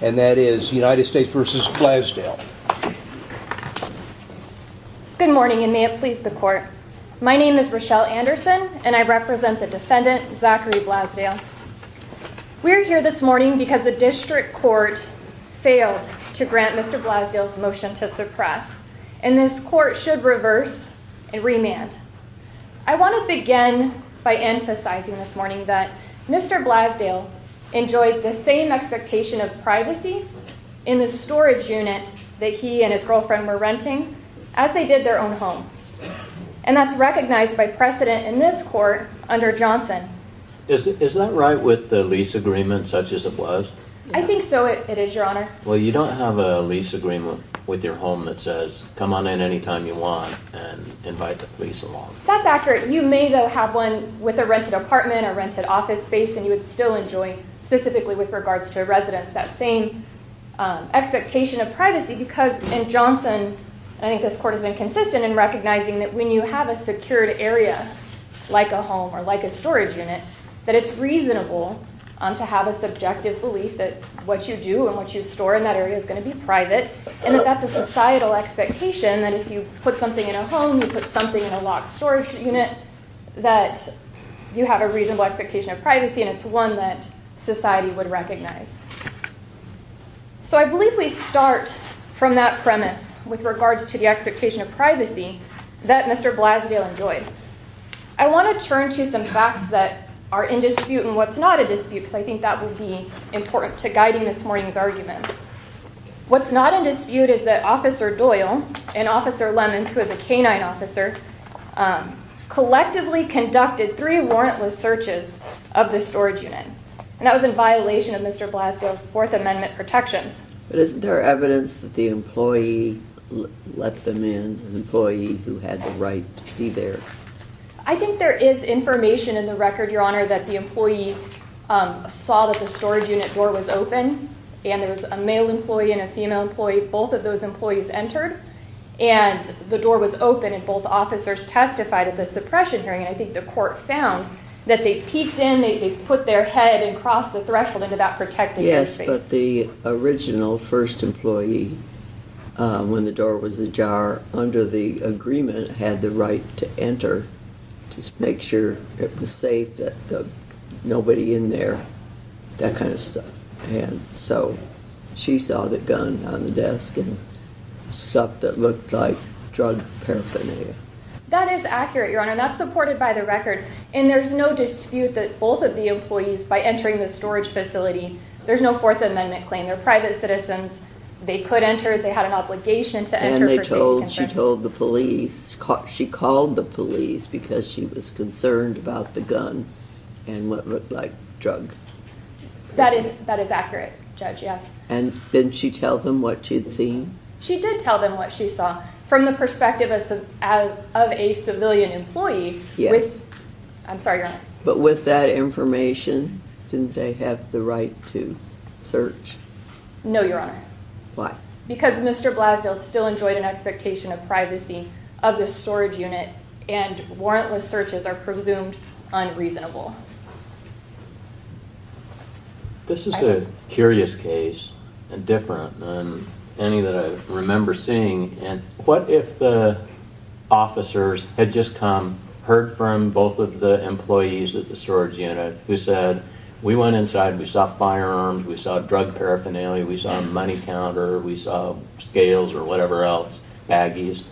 Good morning, and may it please the court. My name is Rochelle Anderson, and I represent the defendant, Zachary Blasdel. We're here this morning because the district court failed to grant Mr. Blasdel's motion to suppress, and this court should reverse and remand. I want to begin by emphasizing this morning that Mr. Blasdel enjoyed the same expectation of privacy in the storage unit that he and his girlfriend were renting as they did their own home. And that's recognized by precedent in this court under Johnson. Is that right with the lease agreement, such as it was? I think so, it is, Your Honor. Well, you don't have a lease agreement with your home that says, come on in any time you want and invite the police along. That's accurate. You may, though, have one with a rented apartment, a rented office space, and you would still enjoy, specifically with regards to a residence, that same expectation of privacy. Because in Johnson, I think this court has been consistent in recognizing that when you have a secured area, like a home or like a storage unit, that it's reasonable to have a subjective belief that what you do and what you store in that area is going to be private, and that that's a societal expectation that if you put something in a home, you put something in a locked storage unit, that you have a reasonable expectation of privacy, and it's one that society would recognize. So I believe we start from that premise with regards to the expectation of privacy that Mr. Blasdale enjoyed. I want to turn to some facts that are in dispute and what's not in dispute, because I think that will be important to guiding this morning's argument. What's not in dispute is that Officer Doyle and Officer Lemons, who is a canine officer, collectively conducted three warrantless searches of the storage unit. And that was in violation of Mr. Blasdale's Fourth Amendment protections. But isn't there evidence that the employee let them in, an employee who had the right to be there? I think there is information in the record, Your Honor, that the employee saw that the storage unit door was open, and there was a male employee and a female employee. Both of those employees entered, and the door was open, and both officers testified at the suppression hearing. And I think the court found that they peeked in, they put their head across the threshold into that protected space. Yes, but the original first employee, when the door was ajar, under the agreement, had the right to enter to make sure it was safe, that nobody in there, that kind of stuff. And so she saw the gun on the desk and stuff that looked like drug paraphernalia. That is accurate, Your Honor. That's supported by the record. And there's no dispute that both of the employees, by entering the storage facility, there's no Fourth Amendment claim. They're private citizens. They could enter. They had an obligation to enter for safety concerns. And she told the police. She called the police because she was concerned about the gun and what looked like drug paraphernalia. That is accurate, Judge, yes. And didn't she tell them what she'd seen? She did tell them what she saw from the perspective of a civilian employee. I'm sorry, Your Honor. But with that information, didn't they have the right to search? No, Your Honor. Why? Because Mr. Blasdale still enjoyed an expectation of privacy of the storage unit, and warrantless searches are presumed unreasonable. This is a curious case, and different than any that I remember seeing. And what if the officers had just come, heard from both of the employees at the storage unit, who said, we went inside, we saw firearms, we saw drug paraphernalia, we saw a money counter, we saw scales or whatever else, baggies.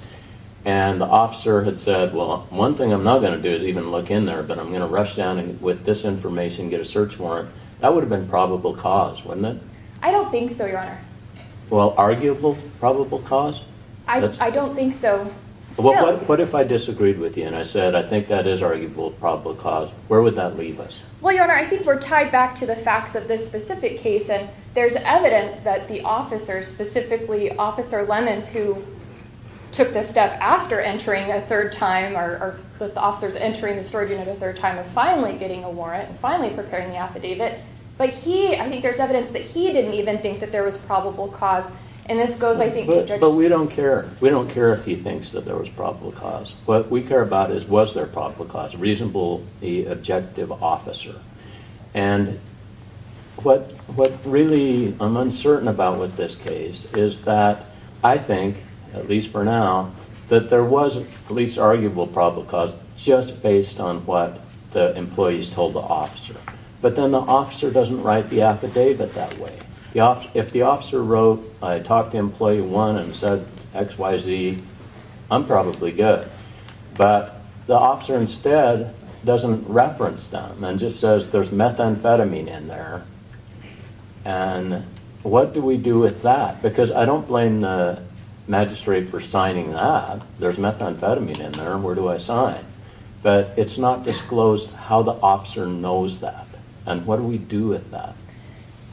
And the officer had said, well, one thing I'm not going to do is even look in there, but I'm going to rush down with this information and get a search warrant. That would have been probable cause, wouldn't it? I don't think so, Your Honor. Well, arguable probable cause? I don't think so. What if I disagreed with you and I said, I think that is arguable probable cause, where would that leave us? Well, Your Honor, I think we're tied back to the facts of this specific case. And there's evidence that the officers, specifically Officer Lemons, who took this step after entering a third time, or the officers entering the storage unit a third time and finally getting a warrant and finally preparing the affidavit. But he, I think there's evidence that he didn't even think that there was probable cause. And this goes, I think, to Judge- But we don't care. We don't care if he thinks that there was probable cause. What we care about is, was there probable cause? Reasonable, the objective officer. And what really I'm uncertain about with this case is that I think, at least for now, that there was at least arguable probable cause just based on what the employees told the officer. But then the officer doesn't write the affidavit that way. If the officer wrote, I talked to employee one and said, XYZ, I'm probably good. But the officer instead doesn't reference them and just says, there's methamphetamine in there. And what do we do with that? Because I don't blame the magistrate for signing that. There's methamphetamine in there, where do I sign? But it's not disclosed how the officer knows that. And what do we do with that?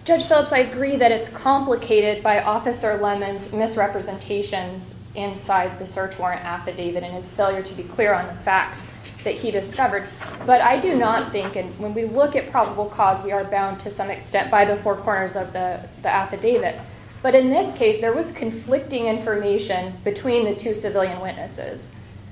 Judge Phillips, I agree that it's complicated by Officer Lemon's misrepresentations inside the search warrant affidavit and his failure to be clear on the facts that he discovered. But I do not think, and when we look at probable cause, we are bound to some extent by the four corners of the affidavit. But in this case, there was conflicting information between the two civilian witnesses.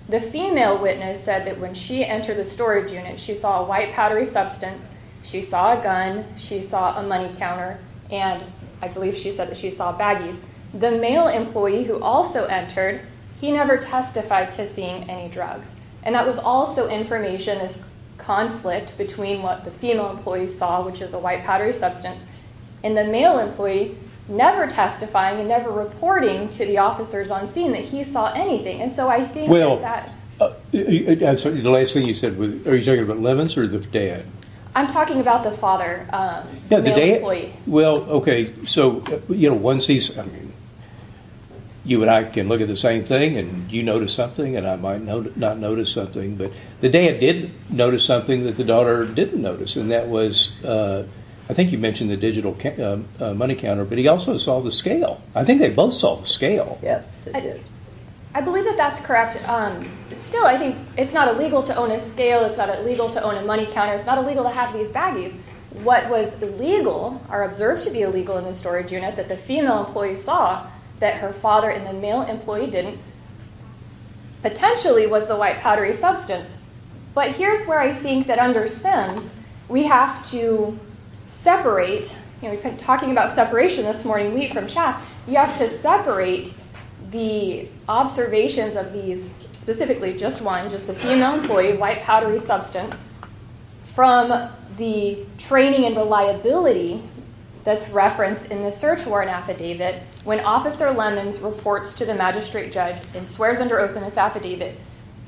The female witness said that when she entered the storage unit, she saw a white powdery substance, she saw a gun, she saw a money counter, and I believe she said that she saw baggies. The male employee who also entered, he never testified to seeing any drugs. And that was also information as conflict between what the female employee saw, which is a white powdery substance, and the male employee never testifying and never reporting to the officers on scene that he saw anything. Well, the last thing you said, are you talking about Lemons or the dad? I'm talking about the father, the male employee. Well, okay, so once he's, I mean, you and I can look at the same thing and you notice something and I might not notice something, but the dad did notice something that the daughter didn't notice, and that was, I think you mentioned the digital money counter, but he also saw the scale. I think they both saw the scale. I believe that that's correct. Still, I think it's not illegal to own a scale, it's not illegal to own a money counter, it's not illegal to have these baggies. What was legal, or observed to be illegal in the storage unit, that the female employee saw that her father and the male employee didn't, potentially was the white powdery substance. But here's where I think that under Sims, we have to separate, we've been talking about separation this morning, wheat from chaff, you have to separate the observations of these, specifically just one, just the female employee, white powdery substance, from the training and reliability that's referenced in the search warrant affidavit when Officer Lemons reports to the magistrate judge and swears under oath in this affidavit,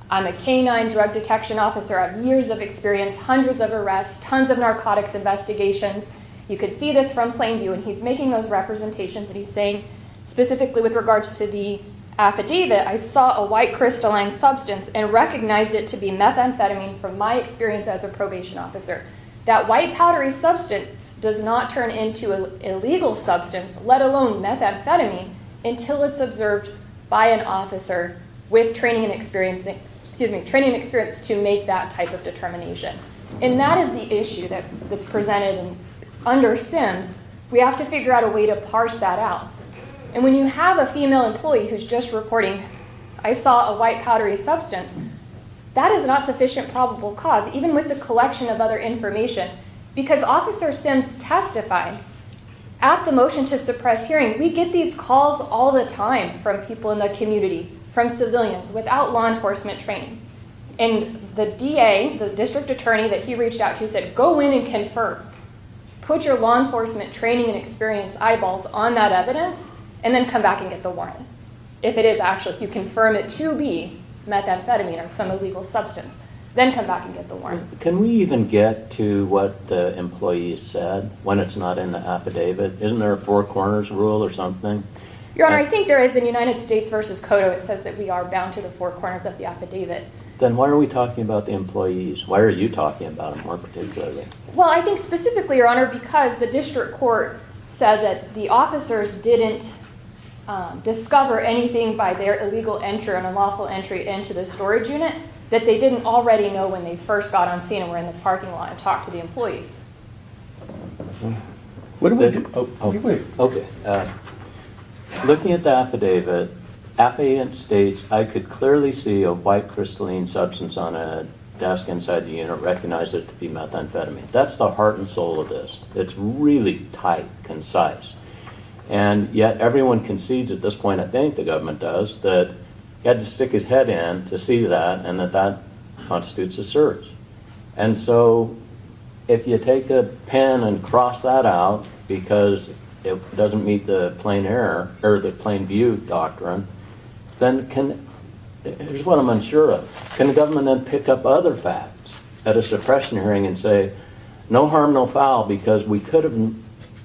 I'm a canine drug detection officer, I have years of experience, hundreds of arrests, tons of narcotics investigations, you can see this from plain view and he's making those representations and he's saying specifically with regards to the affidavit, I saw a white crystalline substance and recognized it to be methamphetamine from my experience as a probation officer. That white powdery substance does not turn into an illegal substance, let alone methamphetamine, until it's observed by an officer with training and experience to make that type of determination. And that is the issue that's presented under SIMS, we have to figure out a way to parse that out. And when you have a female employee who's just reporting, I saw a white powdery substance, that is not sufficient probable cause, even with the collection of other information, because Officer SIMS testified at the motion to suppress hearing, we get these calls all the time from people in the community, from civilians, without law enforcement training. And the DA, the district attorney that he reached out to said, go in and confirm, put your law enforcement training and experience eyeballs on that evidence and then come back and get the warrant. If it is actually, if you confirm it to be methamphetamine or some illegal substance, then come back and get the warrant. Can we even get to what the employee said when it's not in the affidavit? Isn't there a four corners rule or something? Your Honor, I think there is in United States v. Cotto, it says that we are bound to the four corners of the affidavit. Then why are we talking about the employees? Why are you talking about them more particularly? Well, I think specifically, Your Honor, because the district court said that the officers didn't discover anything by their illegal entry or unlawful entry into the storage unit that they didn't already know when they first got on scene and were in the parking lot and talked to the employees. What do we do? Okay. Looking at the affidavit, affidavit states, I could clearly see a white crystalline substance on a desk inside the unit, recognize it to be methamphetamine. That's the heart and soul of this. It's really tight, concise. Yet everyone concedes at this point, I think the government does, that he had to stick his head in to see that and that that constitutes a search. And so if you take a pen and cross that out because it doesn't meet the plain view doctrine, then can, here's what I'm unsure of, can the government then pick up other facts at a suppression hearing and say, no harm, no foul, because we could have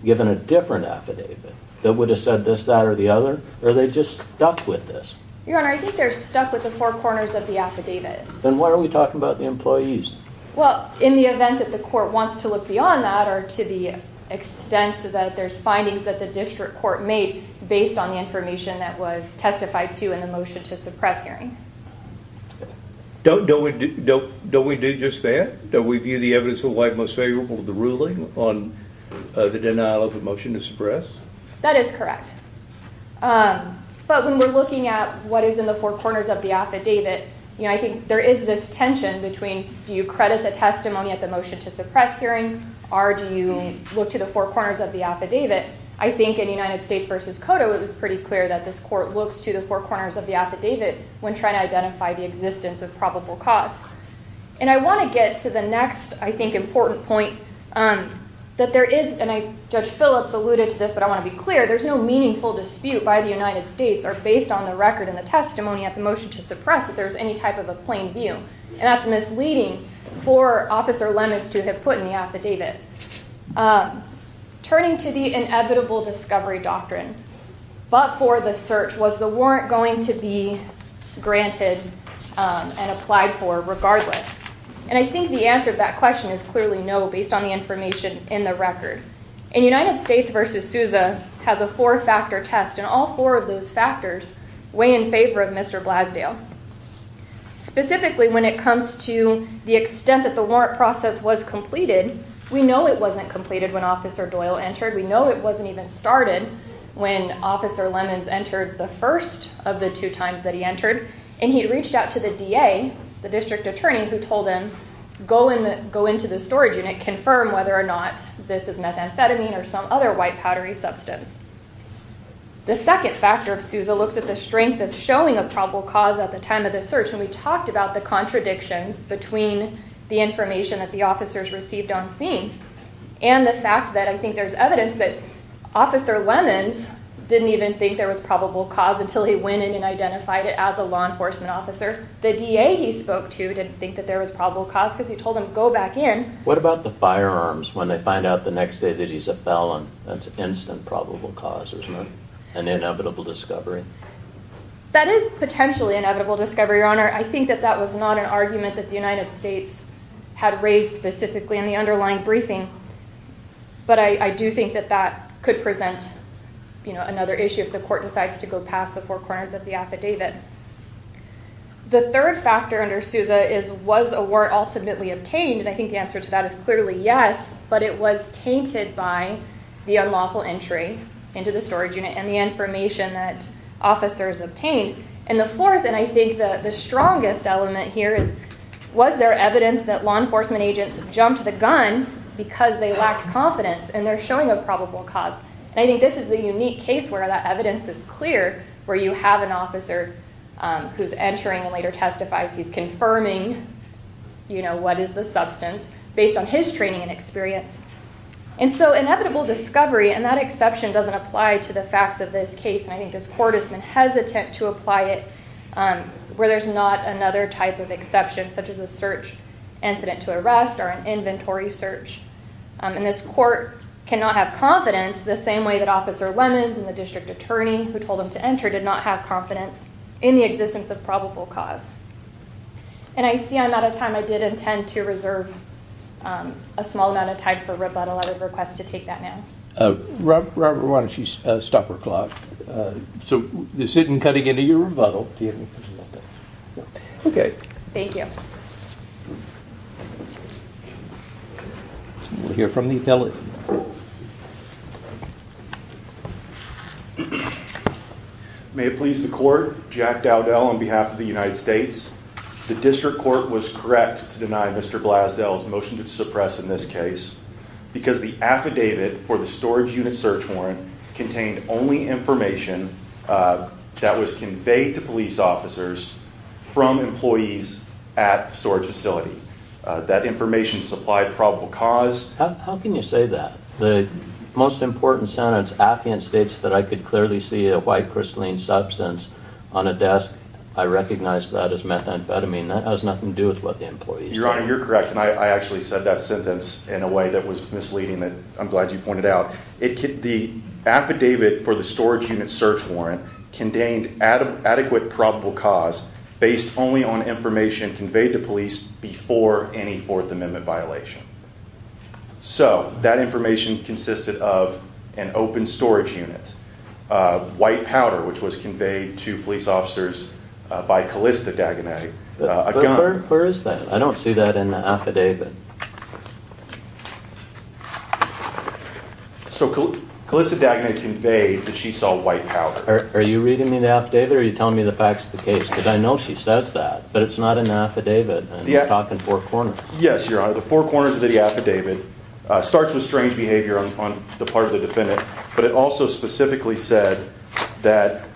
given a different affidavit that would have said this, that, or the other? Or are they just stuck with this? Your Honor, I think they're stuck with the four corners of the affidavit. Then why are we talking about the employees? Well, in the event that the court wants to look beyond that or to the extent that there's findings that the district court made based on the information that was testified to in the motion to suppress hearing. Don't we do just that? Don't we view the evidence of the white most favorable of the ruling on the denial of a motion to suppress? That is correct. But when we're looking at what is in the four corners of the affidavit, I think there is this tension between, do you credit the testimony at the motion to suppress hearing or do you look to the four corners of the affidavit? I think in United States v. Cotto, it was pretty clear that this court looks to the four corners of the affidavit when trying to identify the existence of probable cause. And I want to get to the next, I think, important point, that there is, and Judge Phillips alluded to this, but I want to be clear, there's no meaningful dispute by the United States or based on the record and the testimony at the motion to suppress if there's any type of a plain view. And that's misleading for Officer Lemons to have put in the affidavit. Turning to the inevitable discovery doctrine, but for the search, was the warrant going to be granted and applied for regardless? And I think the answer to that question is clearly no, based on the information in the record. And United States v. Sousa has a four-factor test, and all four of those factors weigh in favor of Mr. Blasdale. Specifically when it comes to the extent that the warrant process was completed, we know it wasn't completed when Officer Doyle entered. We know it wasn't even started when Officer Lemons entered the first of the two times that he entered. And he reached out to the DA, the district attorney, who told him, go into the storage unit, confirm whether or not this is methamphetamine or some other white powdery substance. The second factor of Sousa looks at the strength of showing a probable cause at the time of the search, and we talked about the contradictions between the information that the officers received on scene and the fact that I think there's evidence that Officer Lemons didn't even think there was probable cause until he went in and identified it as a law enforcement officer. The DA he spoke to didn't think that there was probable cause because he told him, go back in. What about the firearms? When they find out the next day that he's a felon, that's instant probable cause, isn't it? An inevitable discovery. That is potentially an inevitable discovery, Your Honor. I think that that was not an argument that the United States had raised specifically in the underlying briefing, but I do think that that could present another issue if the court decides to go past the four corners of the affidavit. The third factor under Sousa is was a warrant ultimately obtained, and I think the answer to that is clearly yes, but it was tainted by the unlawful entry into the storage unit and the information that officers obtained. And the fourth, and I think the strongest element here, was there evidence that law enforcement agents jumped the gun because they lacked confidence, and they're showing a probable cause. I think this is the unique case where that evidence is clear, where you have an officer who's entering and later testifies. He's confirming what is the substance based on his training and experience. And so inevitable discovery and that exception doesn't apply to the facts of this case, and I think this court has been hesitant to apply it where there's not another type of exception, such as a search incident to arrest or an inventory search. And this court cannot have confidence the same way that Officer Lemons and the district attorney who told him to enter did not have confidence in the existence of probable cause. And I see I'm out of time. I did intend to reserve a small amount of time for rebuttal. I would request to take that now. Robert, why don't you stop her clock? So this isn't cutting into your rebuttal. Okay. Thank you. We'll hear from the appellate. May it please the court, Jack Dowdell on behalf of the United States. The district court was correct to deny Mr. Blasdell's motion to suppress in this case because the affidavit for the storage unit search warrant contained only information that was conveyed to police officers from employees at the storage facility. That information supplied probable cause. How can you say that? The most important sentence affiant states that I could clearly see a white crystalline substance on a desk. I recognize that as methamphetamine. That has nothing to do with what the employees. Your Honor, you're correct. And I actually said that sentence in a way that was misleading that I'm glad you pointed out. The affidavit for the storage unit search warrant contained adequate probable cause based only on information conveyed to police before any Fourth Amendment violation. So that information consisted of an open storage unit, white powder, which was conveyed to police officers by Calista Dagenais, a gun. Where is that? I don't see that in the affidavit. So Calista Dagenais conveyed that she saw white powder. Are you reading me the affidavit or are you telling me the facts of the case? Because I know she says that, but it's not in the affidavit. And you're talking four corners. Yes, Your Honor. The four corners of the affidavit starts with strange behavior on the part of the defendant, but it also specifically said that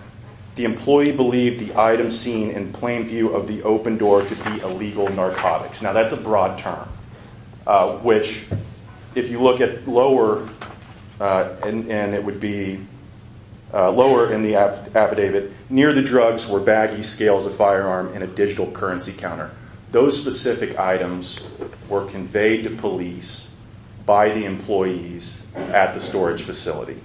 the employee believed the item seen in plain view of the open door to be illegal narcotics. Now that's a broad term, which if you look at lower, and it would be lower in the affidavit, near the drugs were baggy scales, a firearm, and a digital currency counter. Those specific items were conveyed to police by the employees at the storage facility.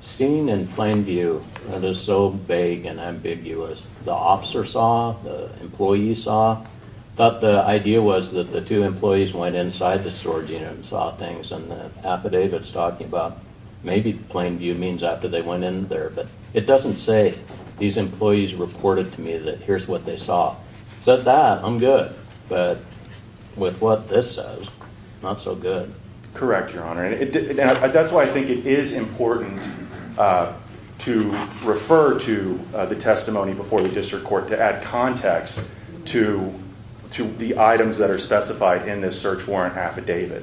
Seen in plain view, that is so vague and ambiguous. The officer saw, the employee saw. I thought the idea was that the two employees went inside the storage unit and saw things, and the affidavit's talking about maybe plain view means after they went in there, but it doesn't say these employees reported to me that here's what they saw. Said that, I'm good. But with what this says, not so good. Correct, Your Honor. That's why I think it is important to refer to the testimony before the district court to add context to the items that are specified in this search warrant affidavit.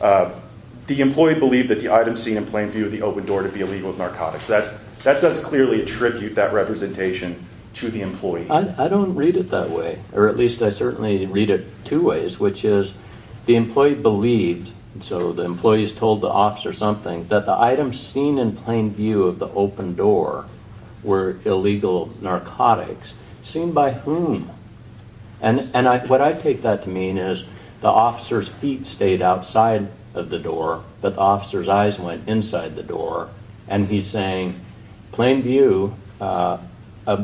The employee believed that the item seen in plain view of the open door to be illegal narcotics. That does clearly attribute that representation to the employee. I don't read it that way. Or at least I certainly read it two ways, which is the employee believed, so the employees told the officer something, that the items seen in plain view of the open door were illegal narcotics. Seen by whom? And what I take that to mean is the officer's feet stayed outside of the door, but the officer's eyes went inside the door, and he's saying plain view of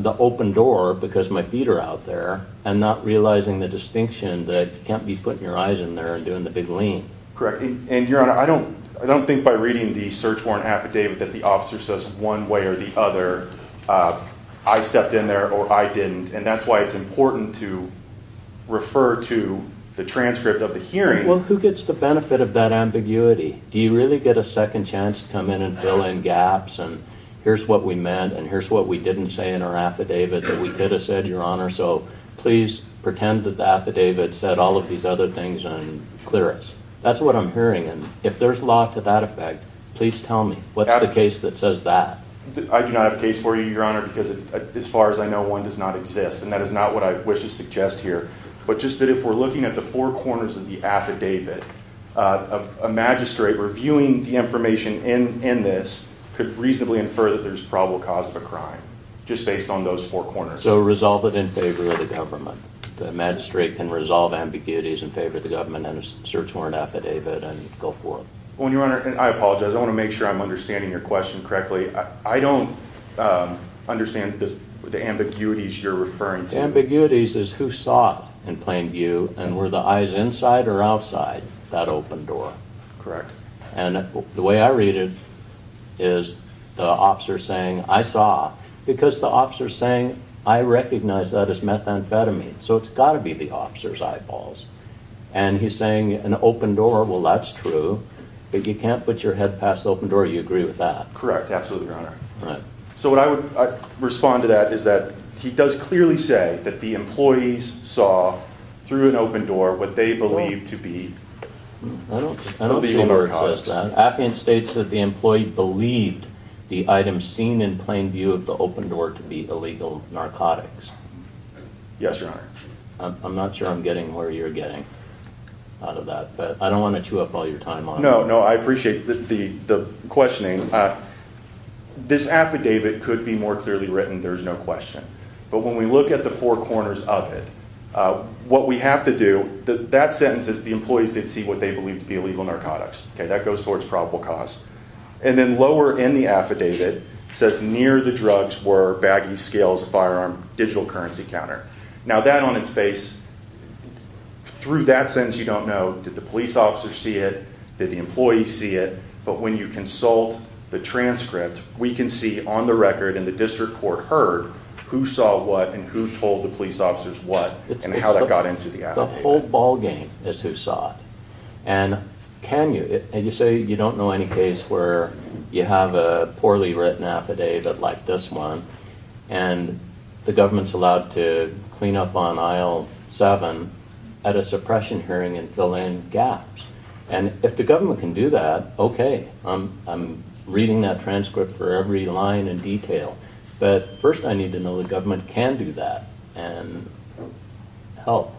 the open door because my feet are out there. I'm not realizing the distinction that you can't be putting your eyes in there and doing the big lean. And, Your Honor, I don't think by reading the search warrant affidavit that the officer says one way or the other, I stepped in there or I didn't, and that's why it's important to refer to the transcript of the hearing. Well, who gets the benefit of that ambiguity? Do you really get a second chance to come in and fill in gaps, and here's what we meant, and here's what we didn't say in our affidavit that we could have said, Your Honor, so please pretend that the affidavit said all of these other things and clear us. That's what I'm hearing, and if there's law to that effect, please tell me. What's the case that says that? I do not have a case for you, Your Honor, because as far as I know, one does not exist, and that is not what I wish to suggest here. But just that if we're looking at the four corners of the affidavit, a magistrate reviewing the information in this could reasonably infer that there's probable cause of a crime just based on those four corners. So resolve it in favor of the government. The magistrate can resolve ambiguities in favor of the government and a search warrant affidavit and go for it. Well, Your Honor, I apologize. I want to make sure I'm understanding your question correctly. I don't understand the ambiguities you're referring to. Ambiguities is who saw in plain view, and were the eyes inside or outside that open door. Correct. And the way I read it is the officer saying, I saw, because the officer's saying, I recognize that as methamphetamine, so it's got to be the officer's eyeballs. And he's saying an open door, well, that's true. But you can't put your head past the open door. You agree with that? Correct, absolutely, Your Honor. So what I would respond to that is that he does clearly say that the employees saw through an open door what they believe to be illegal narcotics. I don't see where it says that. Appian states that the employee believed the item seen in plain view of the open door to be illegal narcotics. Yes, Your Honor. I'm not sure I'm getting where you're getting out of that, but I don't want to chew up all your time on it. No, no, I appreciate the questioning. This affidavit could be more clearly written, there's no question. But when we look at the four corners of it, what we have to do, that sentence is the employees did see what they believed to be illegal narcotics. That goes towards probable cause. And then lower in the affidavit, it says near the drugs were baggy scales, firearm, digital currency counter. Now that on its face, through that sentence you don't know, did the police officer see it, did the employee see it? But when you consult the transcript, we can see on the record and the district court heard who saw what and who told the police officers what and how that got into the affidavit. The whole ballgame is who saw it. And can you? And you say you don't know any case where you have a poorly written affidavit like this one and the government's allowed to clean up on aisle seven at a suppression hearing and fill in gaps. And if the government can do that, okay. I'm reading that transcript for every line and detail. But first I need to know the government can do that and help.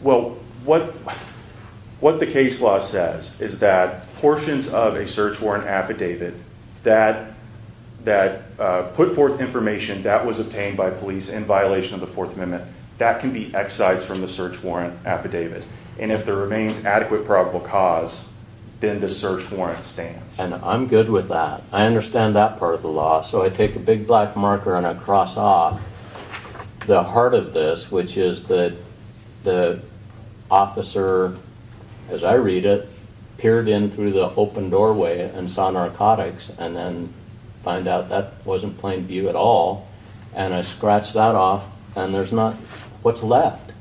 Well, what the case law says is that portions of a search warrant affidavit that put forth information that was obtained by police in violation of the Fourth Amendment, that can be excised from the search warrant affidavit. And if there remains adequate probable cause, then the search warrant stands. And I'm good with that. I understand that part of the law. So I take a big black marker and I cross off the heart of this, which is that the officer, as I read it, peered in through the open doorway and saw narcotics and then find out that wasn't plain view at all. And I scratch that off and there's not what's left.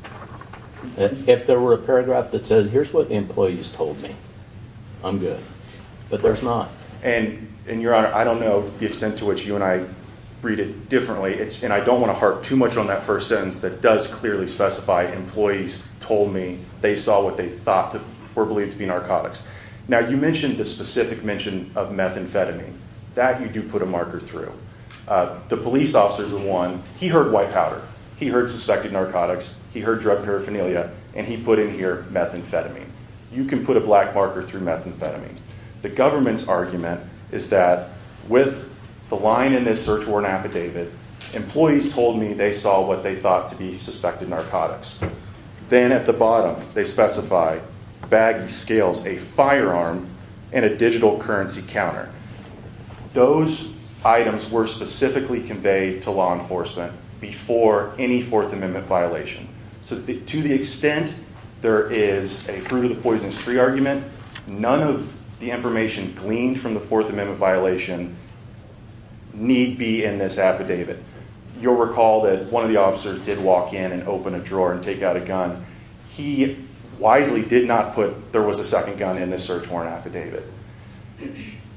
If there were a paragraph that said, here's what the employees told me, I'm good. But there's not. And, Your Honor, I don't know the extent to which you and I read it differently. And I don't want to harp too much on that first sentence that does clearly specify employees told me they saw what they thought were believed to be narcotics. Now, you mentioned the specific mention of methamphetamine. That you do put a marker through. The police officer is the one. He heard white powder. He heard suspected narcotics. He heard drug paraphernalia. And he put in here methamphetamine. You can put a black marker through methamphetamine. The government's argument is that with the line in this search warrant affidavit, employees told me they saw what they thought to be suspected narcotics. Then at the bottom they specify baggy scales, a firearm, and a digital currency counter. Those items were specifically conveyed to law enforcement before any Fourth Amendment violation. So to the extent there is a fruit of the poisonous tree argument, none of the information gleaned from the Fourth Amendment violation need be in this affidavit. You'll recall that one of the officers did walk in and open a drawer and take out a gun. He wisely did not put there was a second gun in this search warrant affidavit.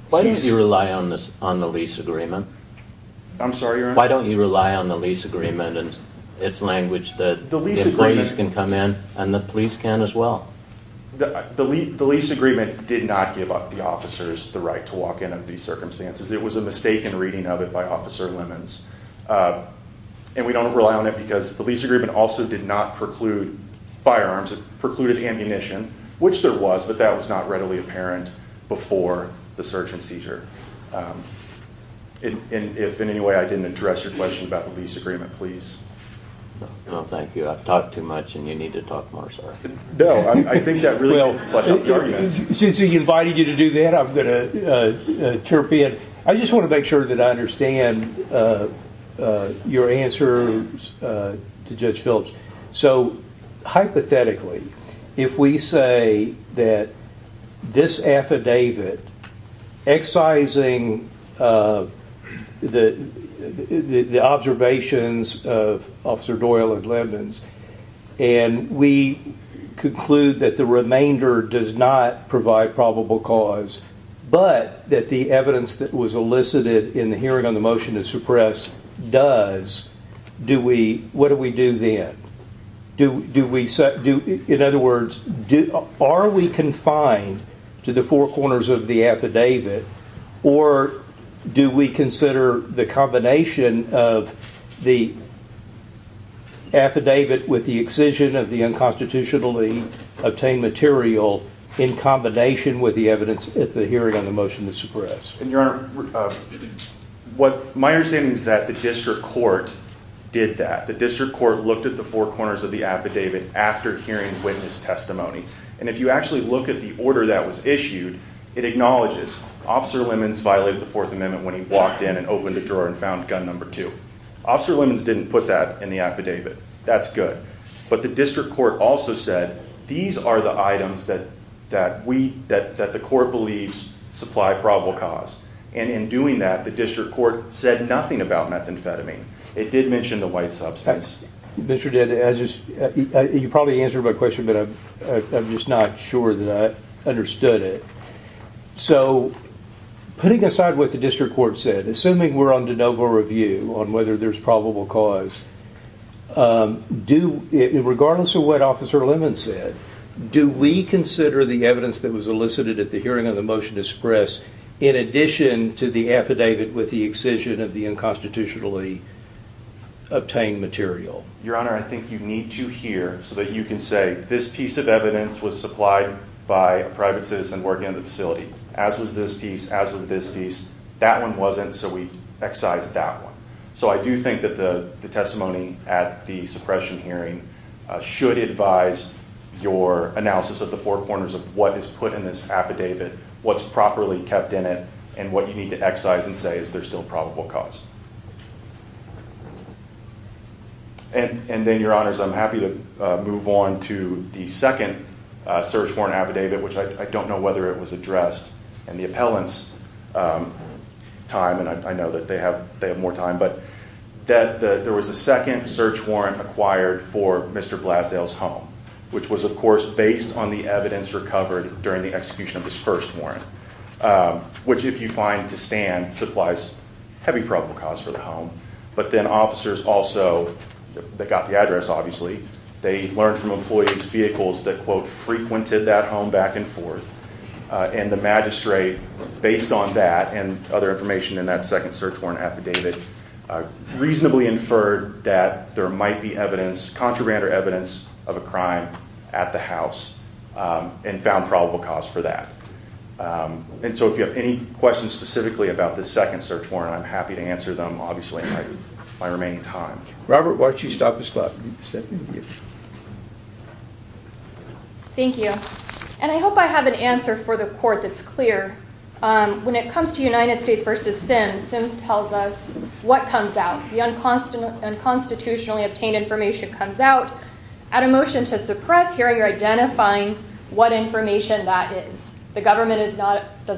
Why did you rely on the lease agreement? I'm sorry, Your Honor? Why don't you rely on the lease agreement and its language that employees can come in and the police can as well? The lease agreement did not give the officers the right to walk in under these circumstances. It was a mistaken reading of it by Officer Lemons. We don't rely on it because the lease agreement also did not preclude firearms. It precluded ammunition, which there was, but that was not readily apparent before the search and seizure. If in any way I didn't address your question about the lease agreement, please. No, thank you. I've talked too much and you need to talk more, sir. No, I think that really fleshed out the argument. Since he invited you to do that, I'm going to chirp in. I just want to make sure that I understand your answers to Judge Phillips. Hypothetically, if we say that this affidavit excising the observations of Officer Doyle and Lemons, and we conclude that the remainder does not provide probable cause, but that the evidence that was elicited in the hearing on the motion to suppress does, what do we do then? In other words, are we confined to the four corners of the affidavit, or do we consider the combination of the affidavit with the excision of the unconstitutionally obtained material in combination with the evidence at the hearing on the motion to suppress? Your Honor, my understanding is that the district court did that. The district court looked at the four corners of the affidavit after hearing witness testimony, and if you actually look at the order that was issued, it acknowledges Officer Lemons violated the Fourth Amendment when he walked in and opened the drawer and found gun number two. Officer Lemons didn't put that in the affidavit. That's good. But the district court also said, these are the items that the court believes supply probable cause. And in doing that, the district court said nothing about methamphetamine. It did mention the white substance. Mr. Dede, you probably answered my question, but I'm just not sure that I understood it. So putting aside what the district court said, assuming we're on de novo review on whether there's probable cause, regardless of what Officer Lemons said, do we consider the evidence that was elicited at the hearing on the motion to suppress in addition to the affidavit with the excision of the unconstitutionally obtained material? Your Honor, I think you need to hear so that you can say, this piece of evidence was supplied by a private citizen working in the facility, as was this piece, as was this piece. That one wasn't, so we excise that one. So I do think that the testimony at the suppression hearing should advise your analysis of the four corners of what is put in this affidavit, what's properly kept in it, and what you need to excise and say, is there still probable cause? And then, Your Honors, I'm happy to move on to the second search warrant affidavit, which I don't know whether it was addressed in the appellant's time, and I know that they have more time, but there was a second search warrant acquired for Mr. Blasdale's home, which was, of course, based on the evidence recovered during the execution of his first warrant, which, if you find to stand, supplies heavy probable cause for the home. But then officers also, they got the address, obviously. They learned from employees' vehicles that, quote, frequented that home back and forth, and the magistrate, based on that and other information in that second search warrant affidavit, reasonably inferred that there might be evidence, contraband or evidence, of a crime at the house, and found probable cause for that. And so if you have any questions specifically about this second search warrant, I'm happy to answer them, obviously, in my remaining time. Robert, why don't you stop the slide? Thank you. And I hope I have an answer for the court that's clear. When it comes to United States v. Sims, Sims tells us what comes out. The unconstitutionally obtained information comes out. At a motion to suppress hearing, you're identifying what information that is. The government does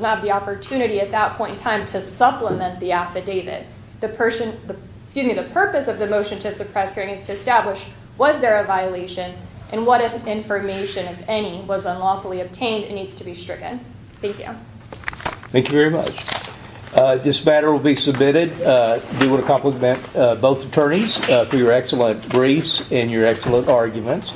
not have the opportunity at that point in time to supplement the affidavit. The purpose of the motion to suppress hearing is to establish, was there a violation, and what information, if any, was unlawfully obtained and needs to be stricken. Thank you. Thank you very much. This matter will be submitted. We want to compliment both attorneys for your excellent briefs and your excellent arguments.